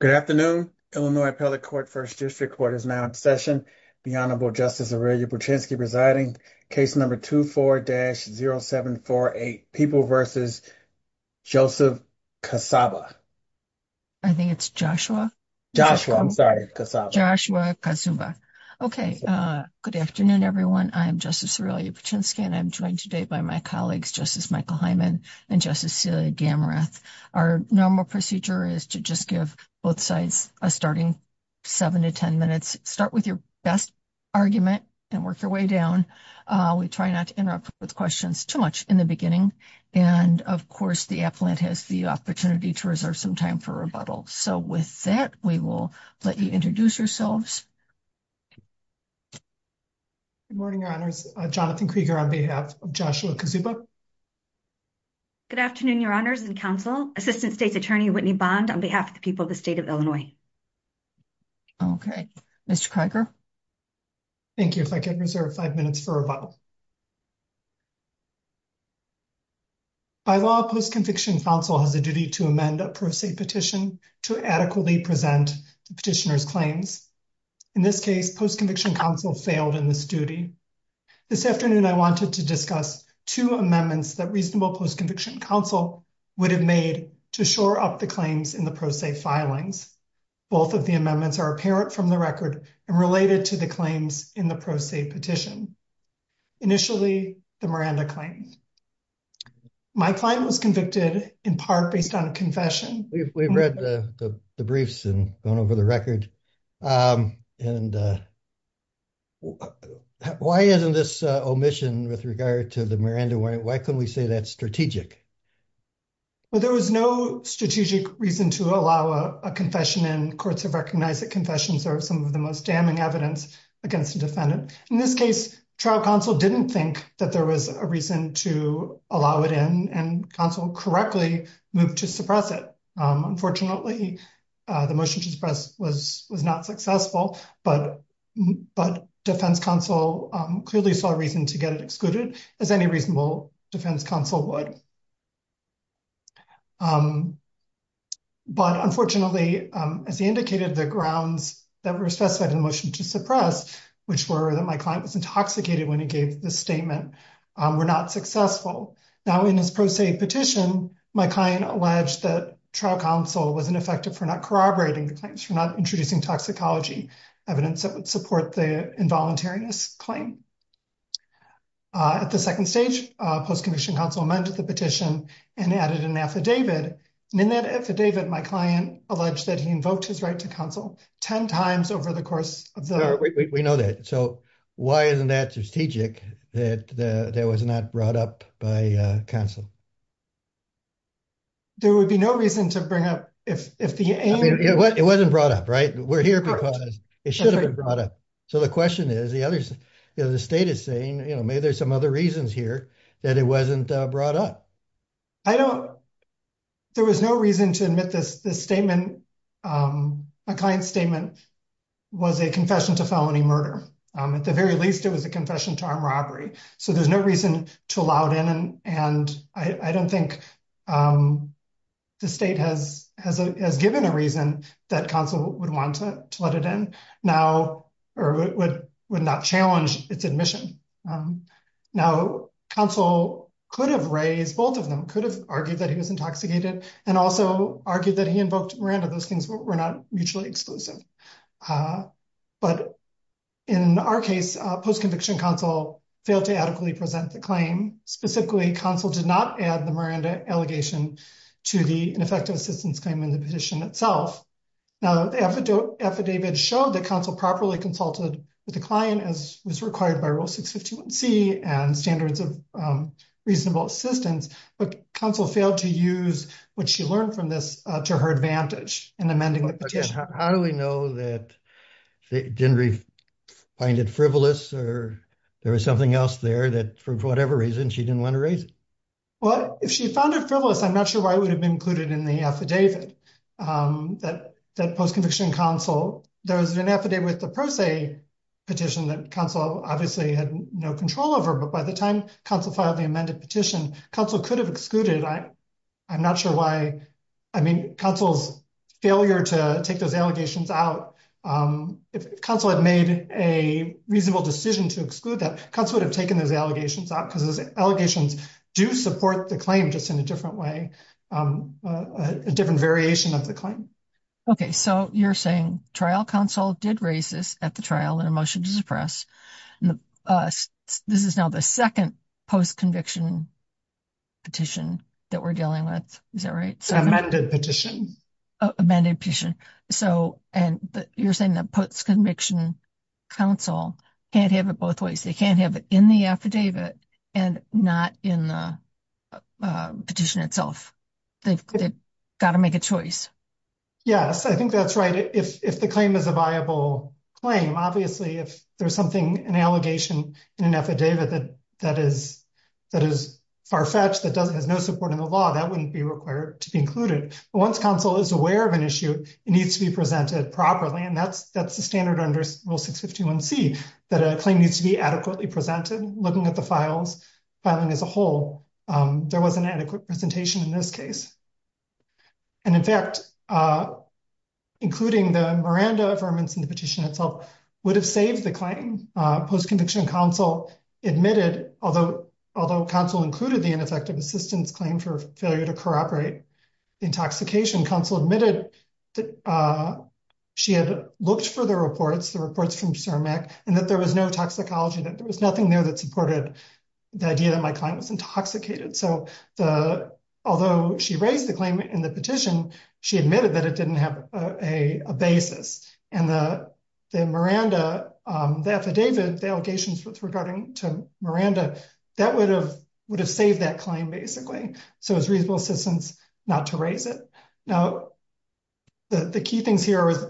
Good afternoon, Illinois Appellate Court, 1st District Court is now in session. The Honorable Justice Aurelia Buczynski presiding. Case number 24-0748, People v. Joseph Kaszuba. I think it's Joshua. Joshua, I'm sorry. Kaszuba. Joshua Kaszuba. Okay, good afternoon, everyone. I'm Justice Aurelia Buczynski and I'm joined today by my colleagues, Justice Michael Hyman and Justice Celia Gammarath. Our normal procedure is to just give both sides a starting 7 to 10 minutes. Start with your best argument and work your way down. We try not to interrupt with questions too much in the beginning, and of course, the appellant has the opportunity to reserve some time for rebuttal. So with that, we will let you introduce yourselves. Good morning, Your Honors. Jonathan Krieger on behalf of Joshua Kaszuba. Good afternoon, Your Honors and Counsel. Assistant State's Attorney Whitney Bond on behalf of the people of the state of Illinois. Okay, Mr. Krieger. Thank you. If I could reserve 5 minutes for rebuttal. By law, Post-Conviction Counsel has a duty to amend a pro se petition to adequately present petitioner's claims. In this case, Post-Conviction Counsel failed in this duty. This afternoon, I wanted to discuss 2 amendments that reasonable Post-Conviction Counsel would have made to shore up the claims in the pro se filings. Both of the amendments are apparent from the record and related to the claims in the pro se petition. Initially, the Miranda claim. My claim was convicted in part based on a confession. We've read the briefs and gone over the record. And why isn't this omission with regard to the Miranda? Why couldn't we say that's strategic? Well, there was no strategic reason to allow a confession and courts have recognized that confessions are some of the most damning evidence against the defendant. In this case, trial counsel didn't think that there was a reason to allow it in and counsel correctly move to suppress it. Unfortunately, the motion to suppress was not successful, but defense counsel clearly saw a reason to get it excluded as any reasonable defense counsel would. But unfortunately, as he indicated, the grounds that were specified in the motion to suppress, which were that my client was intoxicated when he gave the statement, were not successful. Now, in his pro se petition, my client alleged that trial counsel was ineffective for not corroborating the claims, for not introducing toxicology evidence that would support the involuntariness claim. At the second stage, post-conviction counsel amended the petition and added an affidavit. And in that affidavit, my client alleged that he invoked his right to counsel 10 times over the course of the. We know that. So why isn't that strategic that that was not brought up by counsel? There would be no reason to bring up if the. It wasn't brought up, right? We're here because it should have been brought up. So the question is, the others, the state is saying, you know, maybe there's some other reasons here that it wasn't brought up. I don't. There was no reason to admit this. This statement, my client's statement, was a confession to felony murder. At the very least, it was a confession to armed robbery. So there's no reason to allow it in. And I don't think the state has given a reason that counsel would want to let it in now or would not challenge its admission. Now, counsel could have raised both of them, could have argued that he was intoxicated and also argued that he invoked Miranda. Those things were not mutually exclusive. But in our case, post-conviction counsel failed to adequately present the claim. Specifically, counsel did not add the Miranda allegation to the ineffective assistance claim in the petition itself. Now, the affidavit showed that counsel properly consulted with the client as was required by Rule 651C and standards of reasonable assistance, but counsel failed to use what she learned from this to her advantage in amending the petition. How do we know that they didn't find it frivolous or there was something else there that, for whatever reason, she didn't want to raise? Well, if she found it frivolous, I'm not sure why it would have been included in the affidavit. That post-conviction counsel, there was an affidavit with the pro se petition that counsel obviously had no control over, but by the time counsel filed the amended petition, counsel could have excluded it. I'm not sure why. I mean, counsel's failure to take those allegations out, if counsel had made a reasonable decision to exclude that, counsel would have taken those allegations out because those allegations do support the claim just in a different way, a different variation of the claim. Okay, so you're saying trial counsel did raise this at the trial in a motion to suppress. This is now the second post-conviction petition that we're dealing with. Is that right? Amended petition. Amended petition. So, and you're saying that post-conviction counsel can't have it both ways. They can't have it in the affidavit and not in the petition itself. They've got to make a choice. Yes, I think that's right. If the claim is a viable claim, obviously, if there's something, an allegation in an affidavit that is far-fetched, that has no support in the law, that wouldn't be required to be included. But once counsel is aware of an issue, it needs to be presented properly. And that's the standard under Rule 651C, that a claim needs to be adequately presented, looking at the filing as a whole. There wasn't an adequate presentation in this case. And in fact, including the Miranda affirmance in the petition itself would have saved the claim. Post-conviction counsel admitted, although counsel included the ineffective assistance claim for failure to cooperate, the intoxication counsel admitted that she had looked for the reports, the reports from CIRMAC, and that there was no toxicology, that there was nothing there that supported the idea that my client was intoxicated. So although she raised the claim in the petition, she admitted that it didn't have a basis. And the Miranda, the affidavit, the allegations regarding to Miranda, that would have saved that claim, basically. So it's reasonable assistance not to raise it. Now, the key things here is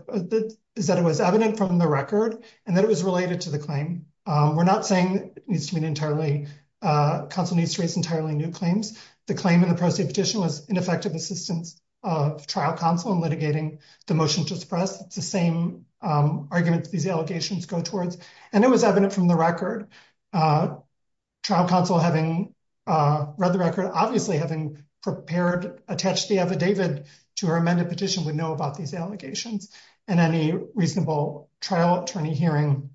that it was evident from the record, and that it was related to the claim. We're not saying it needs to be entirely, counsel needs to raise entirely new claims. The claim in the prostate petition was ineffective assistance of trial counsel in litigating the motion to suppress. It's the same argument that these allegations go towards. And it was evident from the record. Trial counsel, having read the record, obviously having prepared, attached the affidavit to her amended petition, would know about these allegations. And any reasonable trial attorney hearing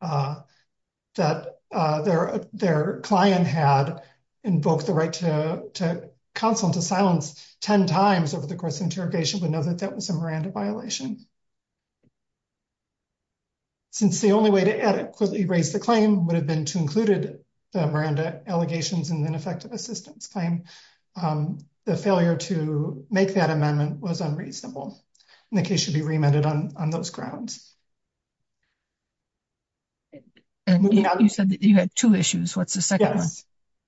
that their client had invoked the right to counsel and to silence 10 times over the course of the interrogation would know that that was a Miranda violation. It's the only way to adequately raise the claim would have been to included the Miranda allegations and ineffective assistance claim. The failure to make that amendment was unreasonable. And the case should be remanded on those grounds. You said that you had two issues. What's the second one?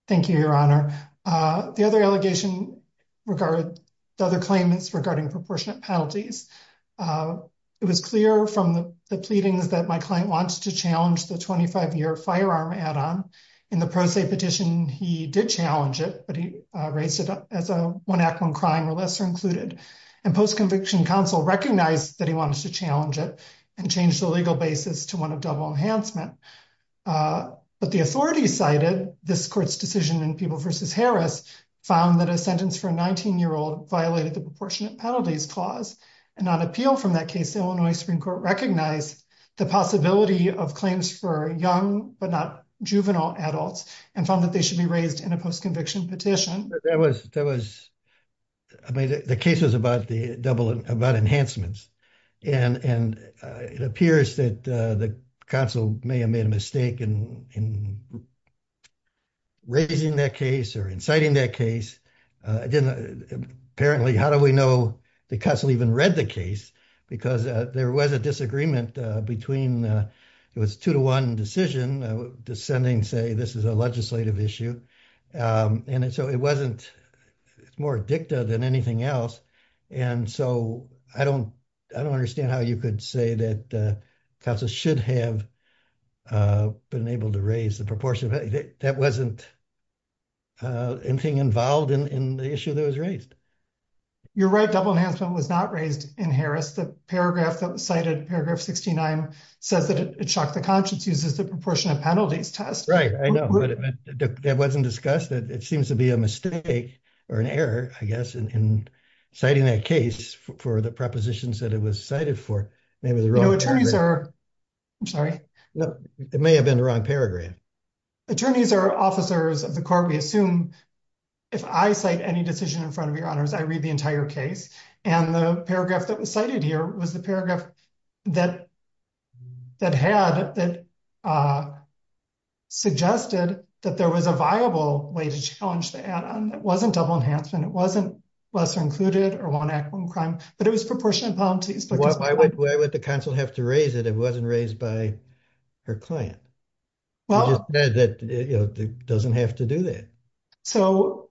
Thank you, Your Honor. The other allegation regarding the other claimants regarding proportionate penalties, it was clear from the pleadings that my client wants to challenge the 25-year firearm add-on. In the prostate petition, he did challenge it, but he raised it as a one act, one crime or lesser included. And post-conviction counsel recognized that he wanted to challenge it and changed the legal basis to one of double enhancement. But the authorities cited this court's decision in People v. Harris found that a sentence for a 19-year-old violated the proportionate penalties clause. And on appeal from that case, the Illinois Supreme Court recognized the possibility of claims for young but not juvenile adults and found that they should be raised in a post-conviction petition. That was, I mean, the case was about the double, about enhancements. And it appears that the counsel may have made a mistake in raising that case or inciting that case. I didn't, apparently, how do we know the counsel even read the case? Because there was a disagreement between, it was two to one decision, descending say this is a legislative issue. And so it wasn't, it's more dicta than anything else. And so I don't, I don't understand how you could say that counsel should have been able to raise the proportion. That wasn't anything involved in the issue that was raised. You're right. Double enhancement was not raised in Harris. The paragraph that was cited, paragraph 69, says that it shocked the conscience uses the proportionate penalties test. Right. I know, but it wasn't discussed. It seems to be a mistake or an error, I guess, in citing that case for the propositions that it was cited for. You know, attorneys are, I'm sorry. It may have been the wrong paragraph. Attorneys are officers of the court. We assume if I cite any decision in front of your honors, I read the entire case. And the paragraph that was cited here was the paragraph that, that had, that suggested that there was a viable way to challenge that. It wasn't double enhancement. It wasn't lesser included or one act one crime, but it was proportionate penalties. Why would the council have to raise it? It wasn't raised by her client. Well, that doesn't have to do that. So,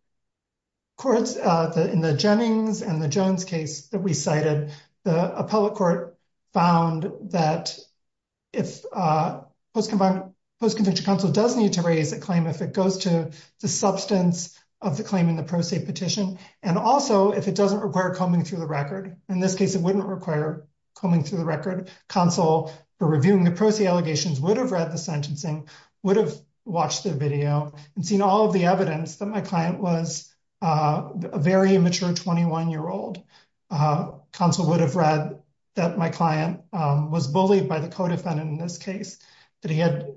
in the Jennings and the Jones case that we cited, the appellate court found that if post-conviction counsel does need to raise a claim if it goes to the substance of the claim in the pro se petition, and also if it doesn't require combing through the record. In this case, it wouldn't require coming through the record. Counsel for reviewing the pro se allegations would have read the sentencing, would have watched the video and seen all of the evidence that my client was a very immature 21 year old. Counsel would have read that my client was bullied by the codefendant in this case that he had.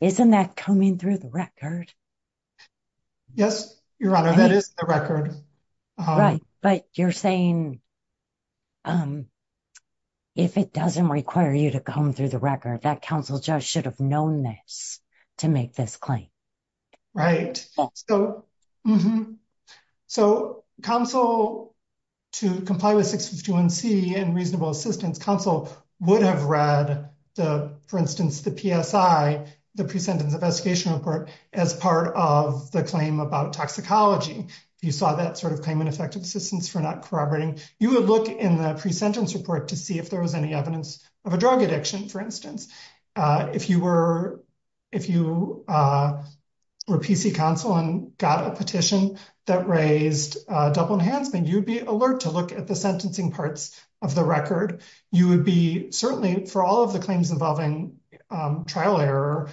Isn't that coming through the record? Yes, Your Honor, that is the record. Right, but you're saying if it doesn't require you to come through the record that counsel judge should have known this to make this claim. Right. So, counsel to comply with 651C and reasonable assistance, counsel would have read the, for instance, the PSI, the pre-sentence investigation report as part of the claim about toxicology. If you saw that sort of claim in effective assistance for not corroborating, you would look in the pre-sentence report to see if there was any evidence of a drug addiction, for instance. If you were PC counsel and got a petition that raised double enhancement, you'd be alert to look at the sentencing parts of the record. You would be, certainly for all of the claims involving trial error,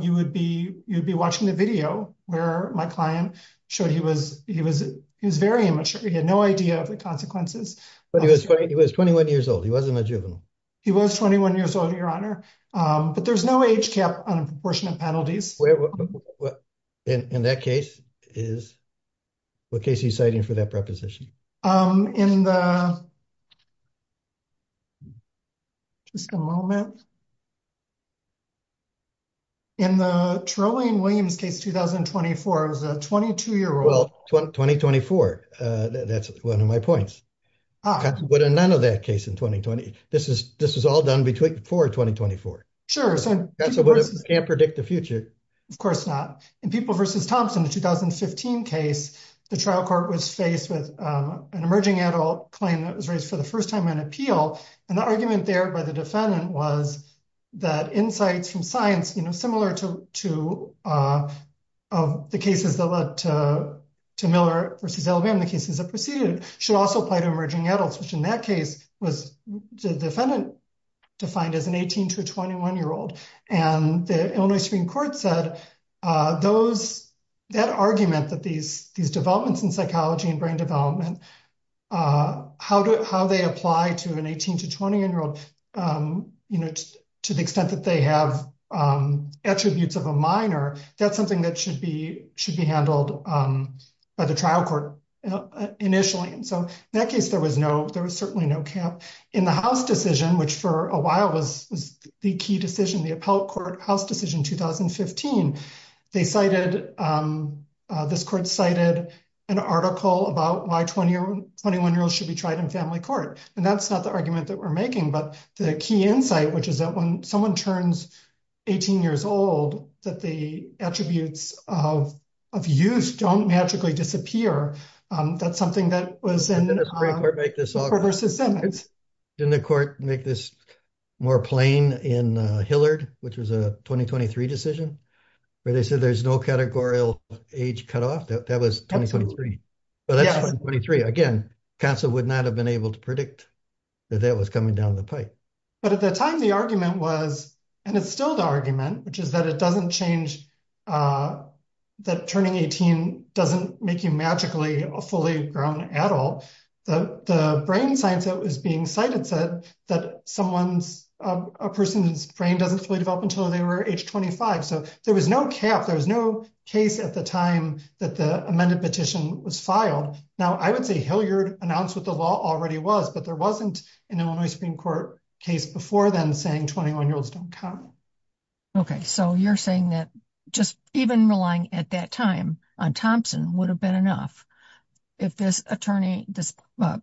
you would be watching the video where my client showed he was very immature. He had no idea of the consequences. But he was 21 years old. He wasn't a juvenile. He was 21 years old, Your Honor, but there's no age cap on proportionate penalties. In that case, what case are you citing for that preposition? In the, just a moment. In the Trillian Williams case, 2024, it was a 22-year-old. Well, 2024, that's one of my points. None of that case in 2020. This is all done before 2024. Sure. Can't predict the future. Of course not. In People v. Thompson, the 2015 case, the trial court was faced with an emerging adult claim that was raised for the first time on appeal. And the argument there by the defendant was that insights from science, you know, similar to the cases that led to Miller v. should also apply to emerging adults, which in that case was the defendant defined as an 18 to a 21-year-old. And the Illinois Supreme Court said that argument that these developments in psychology and brain development, how they apply to an 18 to 21-year-old, you know, to the extent that they have attributes of a minor, that's something that should be handled by the trial court initially. And so in that case, there was no, there was certainly no camp. In the House decision, which for a while was the key decision, the appellate court House decision 2015, they cited, this court cited an article about why 21-year-olds should be tried in family court. And that's not the argument that we're making, but the key insight, which is that when someone turns 18 years old, that the attributes of youth don't magically disappear. That's something that was in the Supreme Court v. Simmons. Didn't the court make this more plain in Hillard, which was a 2023 decision, where they said there's no categorical age cutoff? That was 2023. But that's 2023. Again, counsel would not have been able to predict that that was coming down the pipe. But at the time, the argument was, and it's still the argument, which is that it doesn't change, that turning 18 doesn't make you magically fully grown at all. The brain science that was being cited said that a person's brain doesn't fully develop until they were age 25. So there was no cap. There was no case at the time that the amended petition was filed. Now, I would say Hillard announced what the law already was, but there wasn't an Illinois Supreme Court case before then saying 21-year-olds don't count. OK, so you're saying that just even relying at that time on Thompson would have been enough if this attorney, this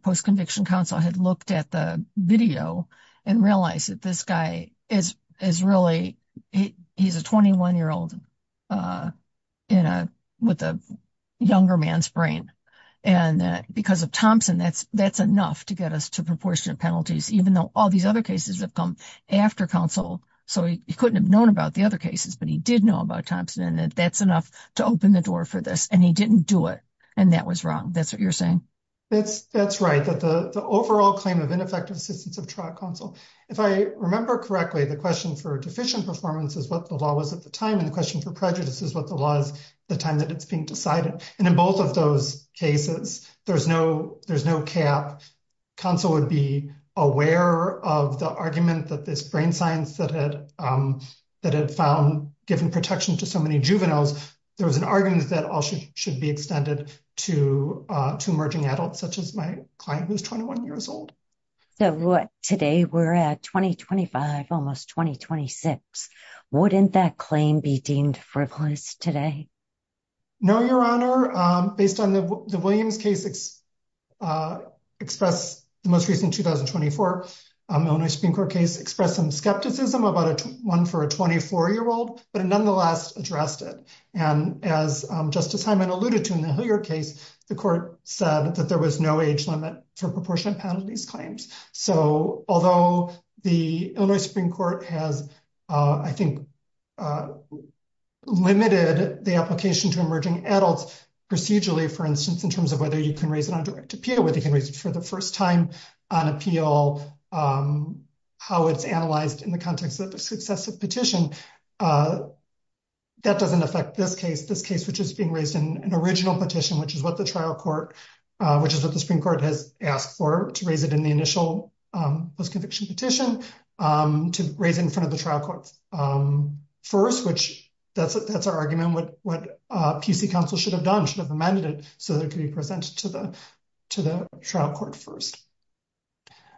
post-conviction counsel, had looked at the video and realized that this guy is really, he's a 21-year-old with a younger man's brain. And because of Thompson, that's enough to get us to proportionate penalties, even though all these other cases have come after counsel. So he couldn't have known about the other cases, but he did know about Thompson and that that's enough to open the door for this. And he didn't do it. And that was wrong. That's what you're saying. That's right. The overall claim of ineffective assistance of trial counsel. If I remember correctly, the question for deficient performance is what the law was at the time. And the question for prejudice is what the law is at the time that it's being decided. And in both of those cases, there's no there's no cap. Counsel would be aware of the argument that this brain science that had that had found given protection to so many juveniles. There was an argument that all should be extended to two emerging adults, such as my client, who's 21 years old. So today we're at 2025, almost 2026. Wouldn't that claim be deemed frivolous today? No, Your Honor. Based on the Williams case, it's expressed the most recent 2024 Supreme Court case expressed some skepticism about one for a 24 year old, but nonetheless addressed it. And as Justice Hyman alluded to in the case, the court said that there was no age limit for proportionate penalties claims. So although the Illinois Supreme Court has, I think, limited the application to emerging adults procedurally, for instance, in terms of whether you can raise it on direct appeal, whether you can raise it for the first time on appeal, how it's analyzed in the context of successive petition. That doesn't affect this case, this case, which is being raised in an original petition, which is what the trial court, which is what the Supreme Court has asked for to raise it in the initial postconviction petition to raise in front of the trial courts first, which that's that's our argument.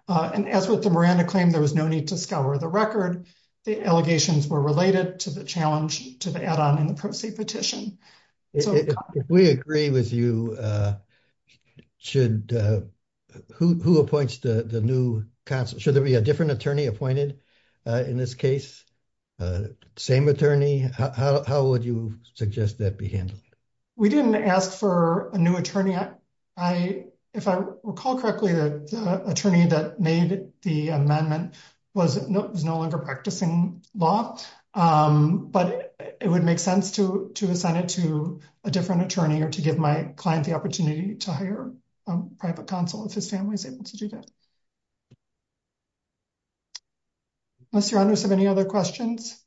And as with the Miranda claim, there was no need to scour the record. The allegations were related to the challenge to the add on in the pro se petition. If we agree with you, should, who appoints the new counsel? Should there be a different attorney appointed in this case? Same attorney, how would you suggest that be handled? We didn't ask for a new attorney. If I recall correctly, the attorney that made the amendment was no longer practicing law, but it would make sense to assign it to a different attorney or to give my client the opportunity to hire a private counsel if his family is able to do that. Unless your honors have any other questions.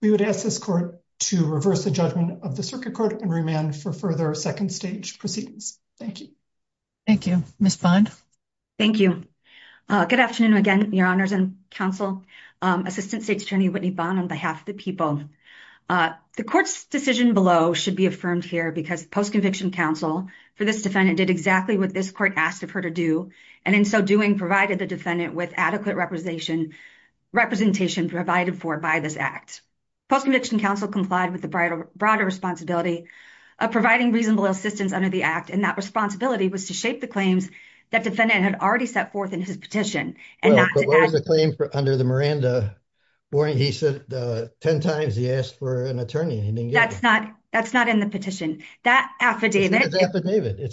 We would ask this court to reverse the judgment of the circuit court and remand for further second stage proceedings. Thank you. Thank you, Ms. Bond. Thank you. Good afternoon again, your honors and counsel, Assistant State's Attorney Whitney Bond on behalf of the people. The court's decision below should be affirmed here because post conviction counsel for this defendant did exactly what this court asked of her to do. And in so doing, provided the defendant with adequate representation representation provided for by this act. Post conviction counsel complied with the broader responsibility of providing reasonable assistance under the act and that responsibility was to shape the claims that defendant had already set forth in his petition. Under the Miranda warning, he said 10 times he asked for an attorney and he didn't get it. That's not in the petition. That affidavit. It's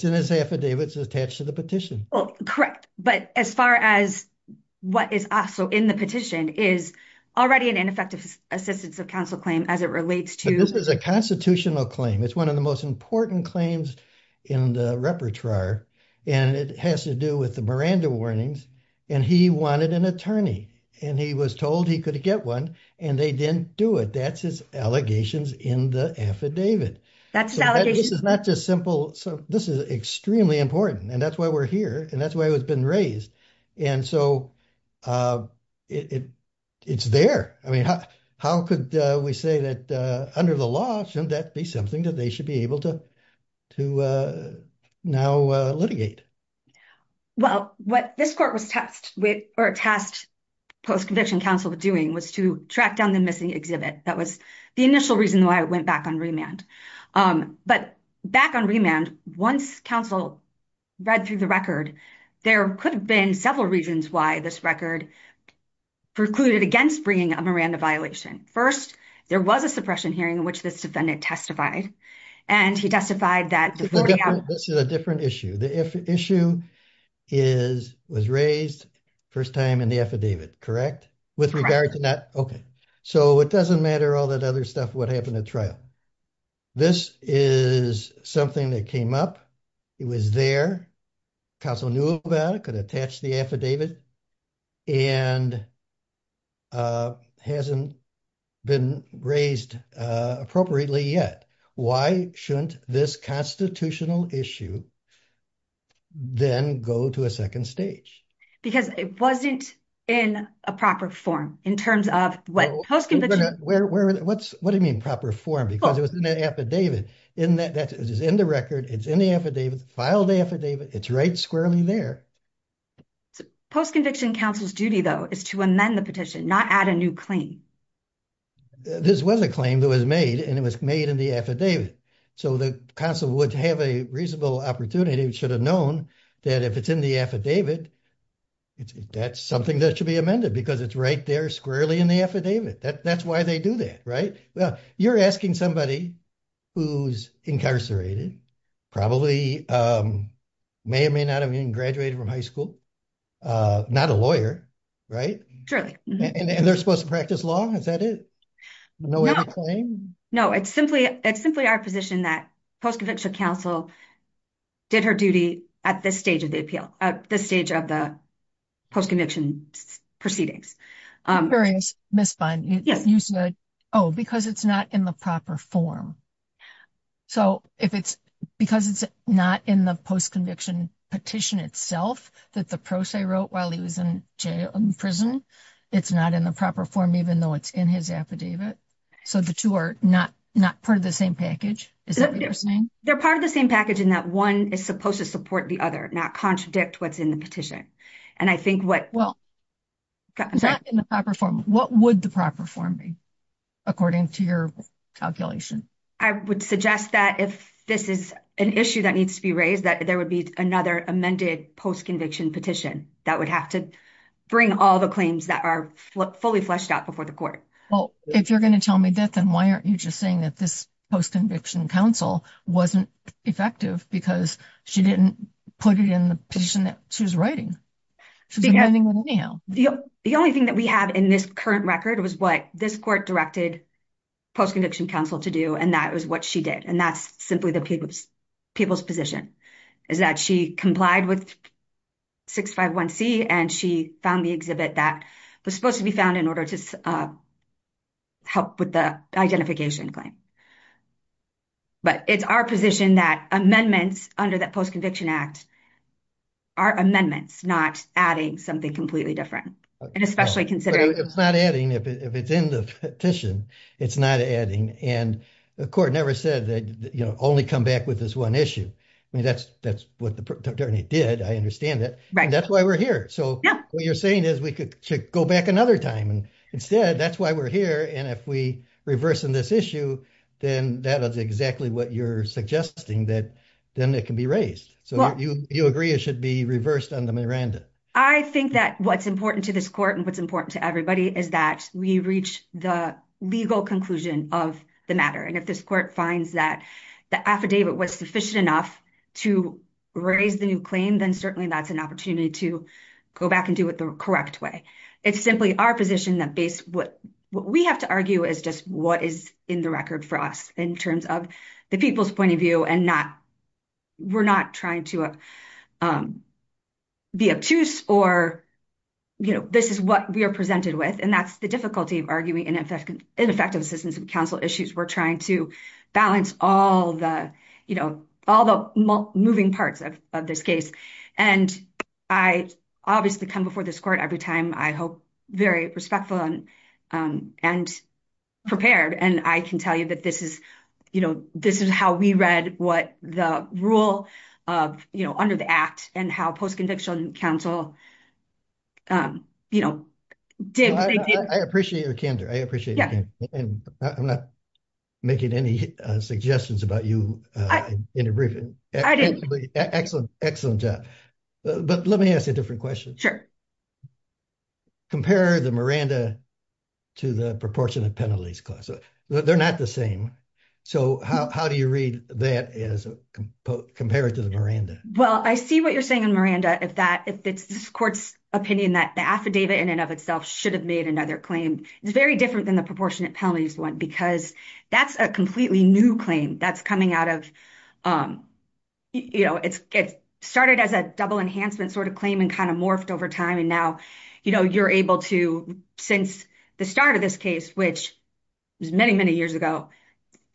in his affidavit. It's attached to the petition. Correct. But as far as what is also in the petition is already an ineffective assistance of counsel claim as it relates to. This is a constitutional claim. It's one of the most important claims in the repertoire, and it has to do with the Miranda warnings, and he wanted an attorney, and he was told he could get one, and they didn't do it. That's his allegations in the affidavit. That's not just simple. So, this is extremely important and that's why we're here and that's why it's been raised. And so, it, it's there. I mean, how could we say that under the law shouldn't that be something that they should be able to to now litigate. Well, what this court was tasked with, or tasked post conviction counsel with doing was to track down the missing exhibit. That was the initial reason why I went back on remand. But back on remand, once counsel read through the record, there could have been several reasons why this record precluded against bringing a Miranda violation. First, there was a suppression hearing, which this defendant testified, and he testified that. This is a different issue. The issue is, was raised first time in the affidavit, correct? With regard to that. Okay. So, it doesn't matter all that other stuff what happened at trial. This is something that came up. It was there. Counsel knew about it, could attach the affidavit, and hasn't been raised appropriately yet. Why shouldn't this constitutional issue then go to a second stage? Because it wasn't in a proper form in terms of what post conviction. What do you mean proper form because it was in the affidavit in that that is in the record. It's in the affidavit filed affidavit. It's right squarely there. Post conviction counsel's duty, though, is to amend the petition, not add a new claim. This was a claim that was made, and it was made in the affidavit. So, the console would have a reasonable opportunity. We should have known that if it's in the affidavit. That's something that should be amended because it's right there squarely in the affidavit. That's why they do that. Right. Well, you're asking somebody who's incarcerated. Probably may or may not have even graduated from high school. Not a lawyer. Right. And they're supposed to practice law. Is that it? No, it's simply, it's simply our position that post conviction counsel did her duty at this stage of the appeal, the stage of the post conviction proceedings. Miss fine, you said, oh, because it's not in the proper form. So, if it's because it's not in the post conviction petition itself that the process wrote while he was in prison, it's not in the proper form, even though it's in his affidavit. So, the 2 are not not part of the same package. Is that they're part of the same package in that 1 is supposed to support the other not contradict what's in the petition. And I think what well, in the proper form, what would the proper form be? According to your calculation, I would suggest that if this is an issue that needs to be raised that there would be another amended post conviction petition that would have to bring all the claims that are fully fleshed out before the court. Well, if you're going to tell me that, then why aren't you just saying that this post conviction counsel wasn't effective because she didn't put it in the position that she was writing. Anyhow, the only thing that we have in this current record was what this court directed post conviction counsel to do. And that was what she did. And that's simply the people's people's position is that she complied with. 651 C, and she found the exhibit that was supposed to be found in order to help with the identification claim. But it's our position that amendments under that post conviction act. Are amendments not adding something completely different and especially considering it's not adding if it's in the petition, it's not adding and the court never said that only come back with this 1 issue. I mean, that's that's what the attorney did. I understand that. Right? That's why we're here. So what you're saying is we could go back another time. And instead, that's why we're here. And if we reverse in this issue, then that is exactly what you're suggesting that then it can be raised. So you agree it should be reversed on the Miranda. I think that what's important to this court and what's important to everybody is that we reach the legal conclusion of the matter. And if this court finds that the affidavit was sufficient enough to raise the new claim, then certainly that's an opportunity to go back and do it the correct way. It's simply our position that based what we have to argue is just what is in the record for us in terms of the people's point of view and not we're not trying to be obtuse or this is what we are presented with. And that's the difficulty of arguing and effective assistance and counsel issues. We're trying to balance all the moving parts of this case. And I obviously come before this court every time. I hope very respectful and prepared. And I can tell you that this is how we read what the rule under the act and how post-conviction counsel did. I appreciate your candor. I appreciate it. And I'm not making any suggestions about you in a briefing. Excellent, excellent job. But let me ask a different question. Compare the Miranda to the proportionate penalties clause. They're not the same. So how do you read that as compared to the Miranda? Well, I see what you're saying on Miranda. If that if it's this court's opinion that the affidavit in and of itself should have made another claim, it's very different than the proportionate penalties one because that's a completely new claim. That's coming out of, you know, it's started as a double enhancement sort of claim and kind of morphed over time. And now, you know, you're able to since the start of this case, which is many, many years ago,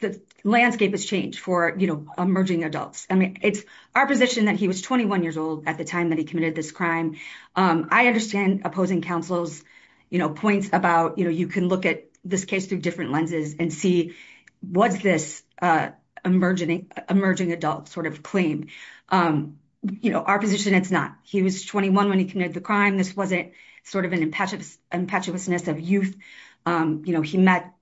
the landscape has changed for emerging adults. I mean, it's our position that he was 21 years old at the time that he committed this crime. I understand opposing counsel's points about, you know, you can look at this case through different lenses and see what's this emerging adult sort of claim. You know, our position, it's not. He was 21 when he committed the crime. This wasn't sort of an impetuousness of youth. You know, he met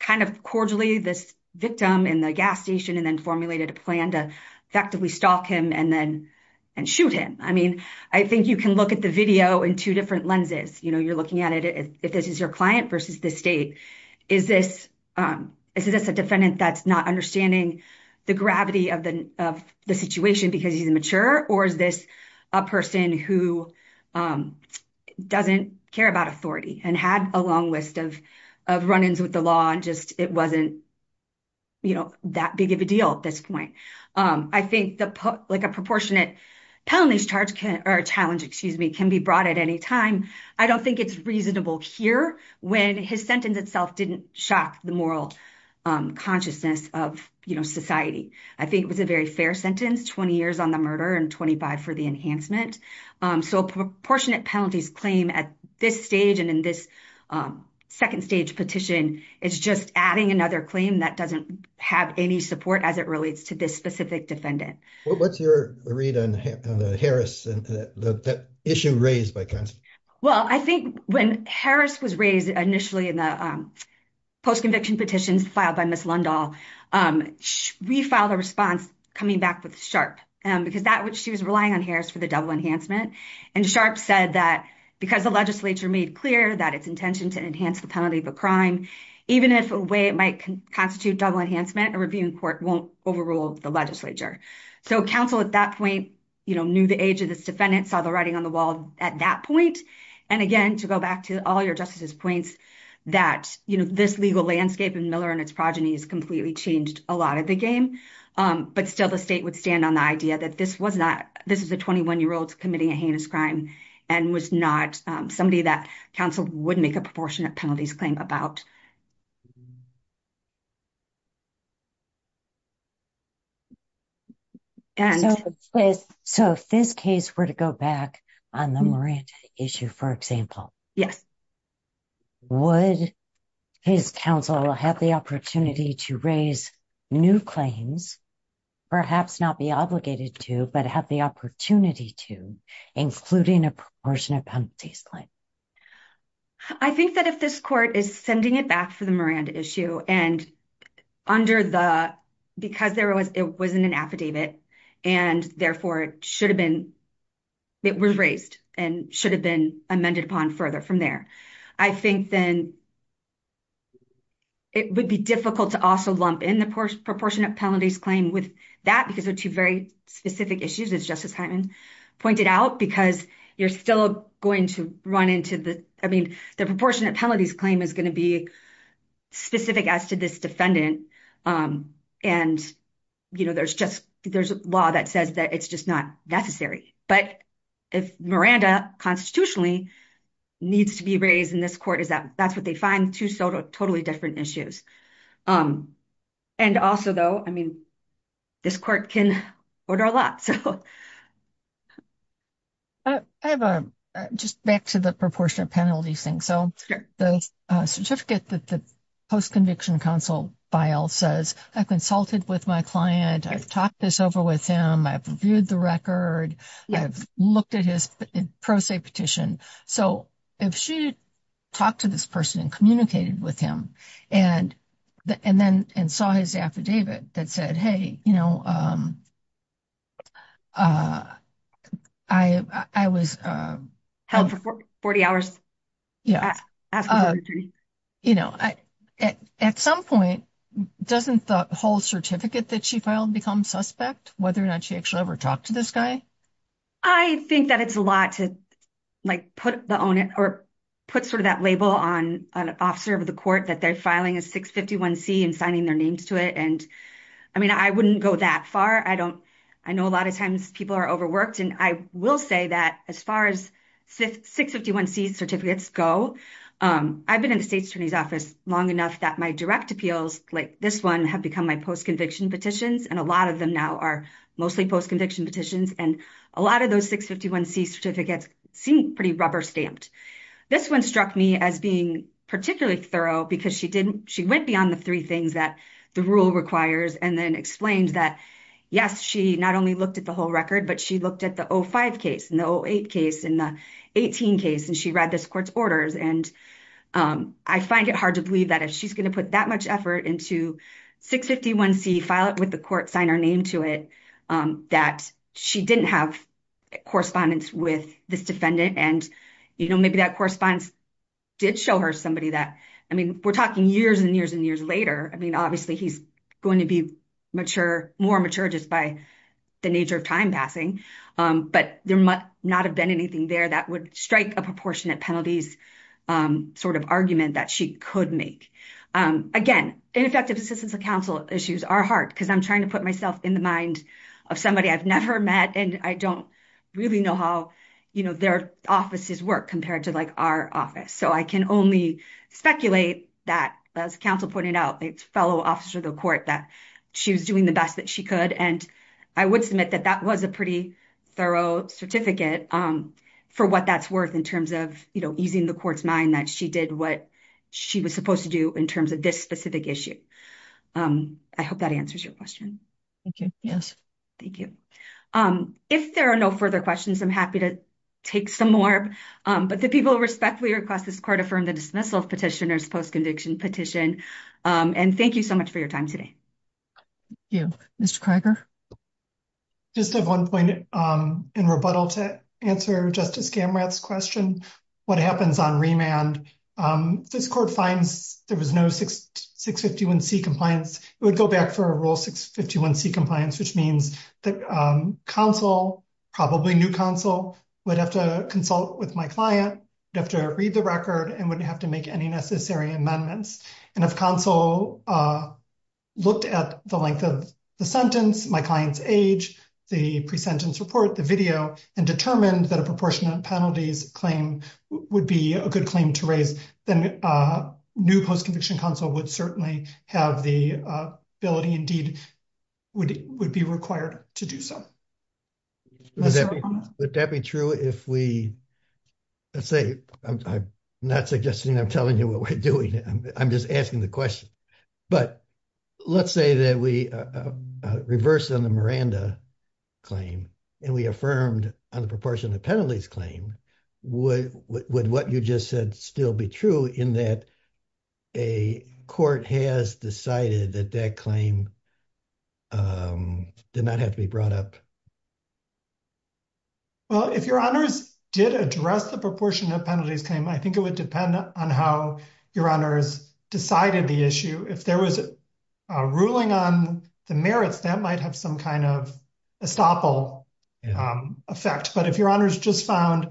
kind of cordially this victim in the gas station and then formulated a plan to effectively stalk him and then and shoot him. I mean, I think you can look at the video in two different lenses. You know, you're looking at it if this is your client versus the state. Is this is this a defendant that's not understanding the gravity of the of the situation because he's immature? Or is this a person who doesn't care about authority and had a long list of of run ins with the law and just it wasn't. You know, that big of a deal at this point, I think the like a proportionate penalties charge or challenge, excuse me, can be brought at any time. I don't think it's reasonable here when his sentence itself didn't shock the moral consciousness of society. I think it was a very fair sentence, 20 years on the murder and 25 for the enhancement. So proportionate penalties claim at this stage and in this second stage petition, it's just adding another claim that doesn't have any support as it relates to this specific defendant. Well, I think when Harris was raised initially in the post conviction petitions filed by Miss Lundahl, we filed a response coming back with sharp because that what she was relying on Harris for the double enhancement and sharp said that because the legislature made clear that its intention to enhance the penalty of a crime, even if a way it might constitute double enhancement and reviewing court won't overrule the legislature. So counsel at that point knew the age of this defendant saw the writing on the wall at that point. And again, to go back to all your justices points that this legal landscape and Miller and its progeny is completely changed a lot of the game. But still the state would stand on the idea that this was not this is a 21 year old committing a heinous crime and was not somebody that counsel would make a proportionate penalties claim about. And so, so if this case were to go back on the issue, for example, yes, would his counsel have the opportunity to raise new claims, perhaps not be obligated to, but have the opportunity to, including a portion of penalties claim. I think that if this court is sending it back for the Miranda issue and under the because there was it wasn't an affidavit, and therefore it should have been. It was raised and should have been amended upon further from there. I think then. It would be difficult to also lump in the proportionate penalties claim with that, because they're 2 very specific issues as justice pointed out, because you're still going to run into the, I mean, the proportionate penalties claim is going to be specific as to this defendant. And, you know, there's just there's a law that says that it's just not necessary. But if Miranda constitutionally needs to be raised in this court, is that that's what they find 2 totally different issues. And also, though, I mean, this court can order a lot. I have just back to the proportionate penalties thing, so the certificate that the post conviction counsel file says, I consulted with my client. I've talked this over with him. I've reviewed the record. I've looked at his pro se petition, so if she talked to this person and communicated with him and and then and saw his affidavit that said, hey, you know. I, I was held for 40 hours. Yeah, you know, at some point, doesn't the whole certificate that she filed become suspect whether or not she actually ever talked to this guy. I think that it's a lot to like, put the on it or put sort of that label on an officer of the court that they're filing a 651 C and signing their names to it. And I mean, I wouldn't go that far. I don't I know a lot of times people are overworked and I will say that as far as 651 C certificates go, I've been in the state attorney's office long enough that my direct appeals like this 1 have become my post conviction petitions. And a lot of them now are mostly post conviction petitions and a lot of those 651 C certificates seem pretty rubber stamped. This 1 struck me as being particularly thorough because she didn't she went beyond the 3 things that the rule requires and then explains that. Yes, she not only looked at the whole record, but she looked at the 05 case in the 08 case in the 18 case and she read this court's orders. And I find it hard to believe that if she's going to put that much effort into 651 C file it with the court sign our name to it that she didn't have correspondence with this defendant. And maybe that correspondence did show her somebody that I mean, we're talking years and years and years later. I mean, obviously, he's going to be mature, more mature just by the nature of time passing. But there might not have been anything there that would strike a proportionate penalties sort of argument that she could make. Again, ineffective assistance of counsel issues are hard because I'm trying to put myself in the mind of somebody I've never met. And I don't really know how their offices work compared to our office. So I can only speculate that, as counsel pointed out, it's fellow officer of the court that she was doing the best that she could. And I would submit that that was a pretty thorough certificate for what that's worth in terms of easing the court's mind that she did what she was supposed to do in terms of this specific issue. I hope that answers your question. Yes, thank you. If there are no further questions, I'm happy to take some more. But the people respectfully request this court affirm the dismissal petitioners post conviction petition. And thank you so much for your time today. Thank you. Mr. Krager. Just at one point in rebuttal to answer Justice Gamrath's question, what happens on remand? This court finds there was no 651C compliance. It would go back for a rule 651C compliance, which means that counsel, probably new counsel, would have to consult with my client, would have to read the record, and would have to make any necessary amendments. And if counsel looked at the length of the sentence, my client's age, the presentence report, the video, and determined that a proportionate penalties claim would be a good claim to raise, then new post conviction counsel would certainly have the ability, indeed, would be required to do so. Would that be true if we, let's say, I'm not suggesting I'm telling you what we're doing. I'm just asking the question. But let's say that we reverse on the Miranda claim, and we affirmed on the proportionate penalties claim. Would what you just said still be true in that a court has decided that that claim did not have to be brought up? Well, if your honors did address the proportionate penalties claim, I think it would depend on how your honors decided the issue. If there was a ruling on the merits, that might have some kind of estoppel effect. But if your honors just found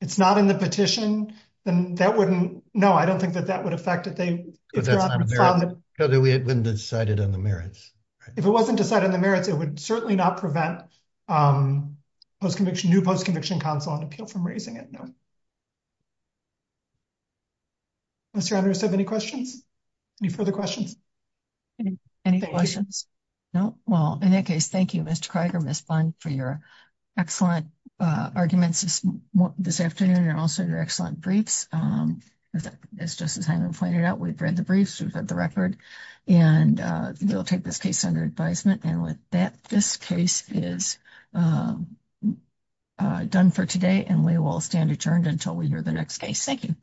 it's not in the petition, then that wouldn't. No, I don't think that that would affect it. We had been decided on the merits. If it wasn't decided on the merits, it would certainly not prevent post conviction, new post conviction counsel and appeal from raising it. No. Mr. I don't have any questions. Any further questions. Any questions? No. Well, in that case, thank you, Mr. We've read the briefs, we've had the record, and we'll take this case under advisement. And with that, this case is done for today, and we will stand adjourned until we hear the next case. Thank you.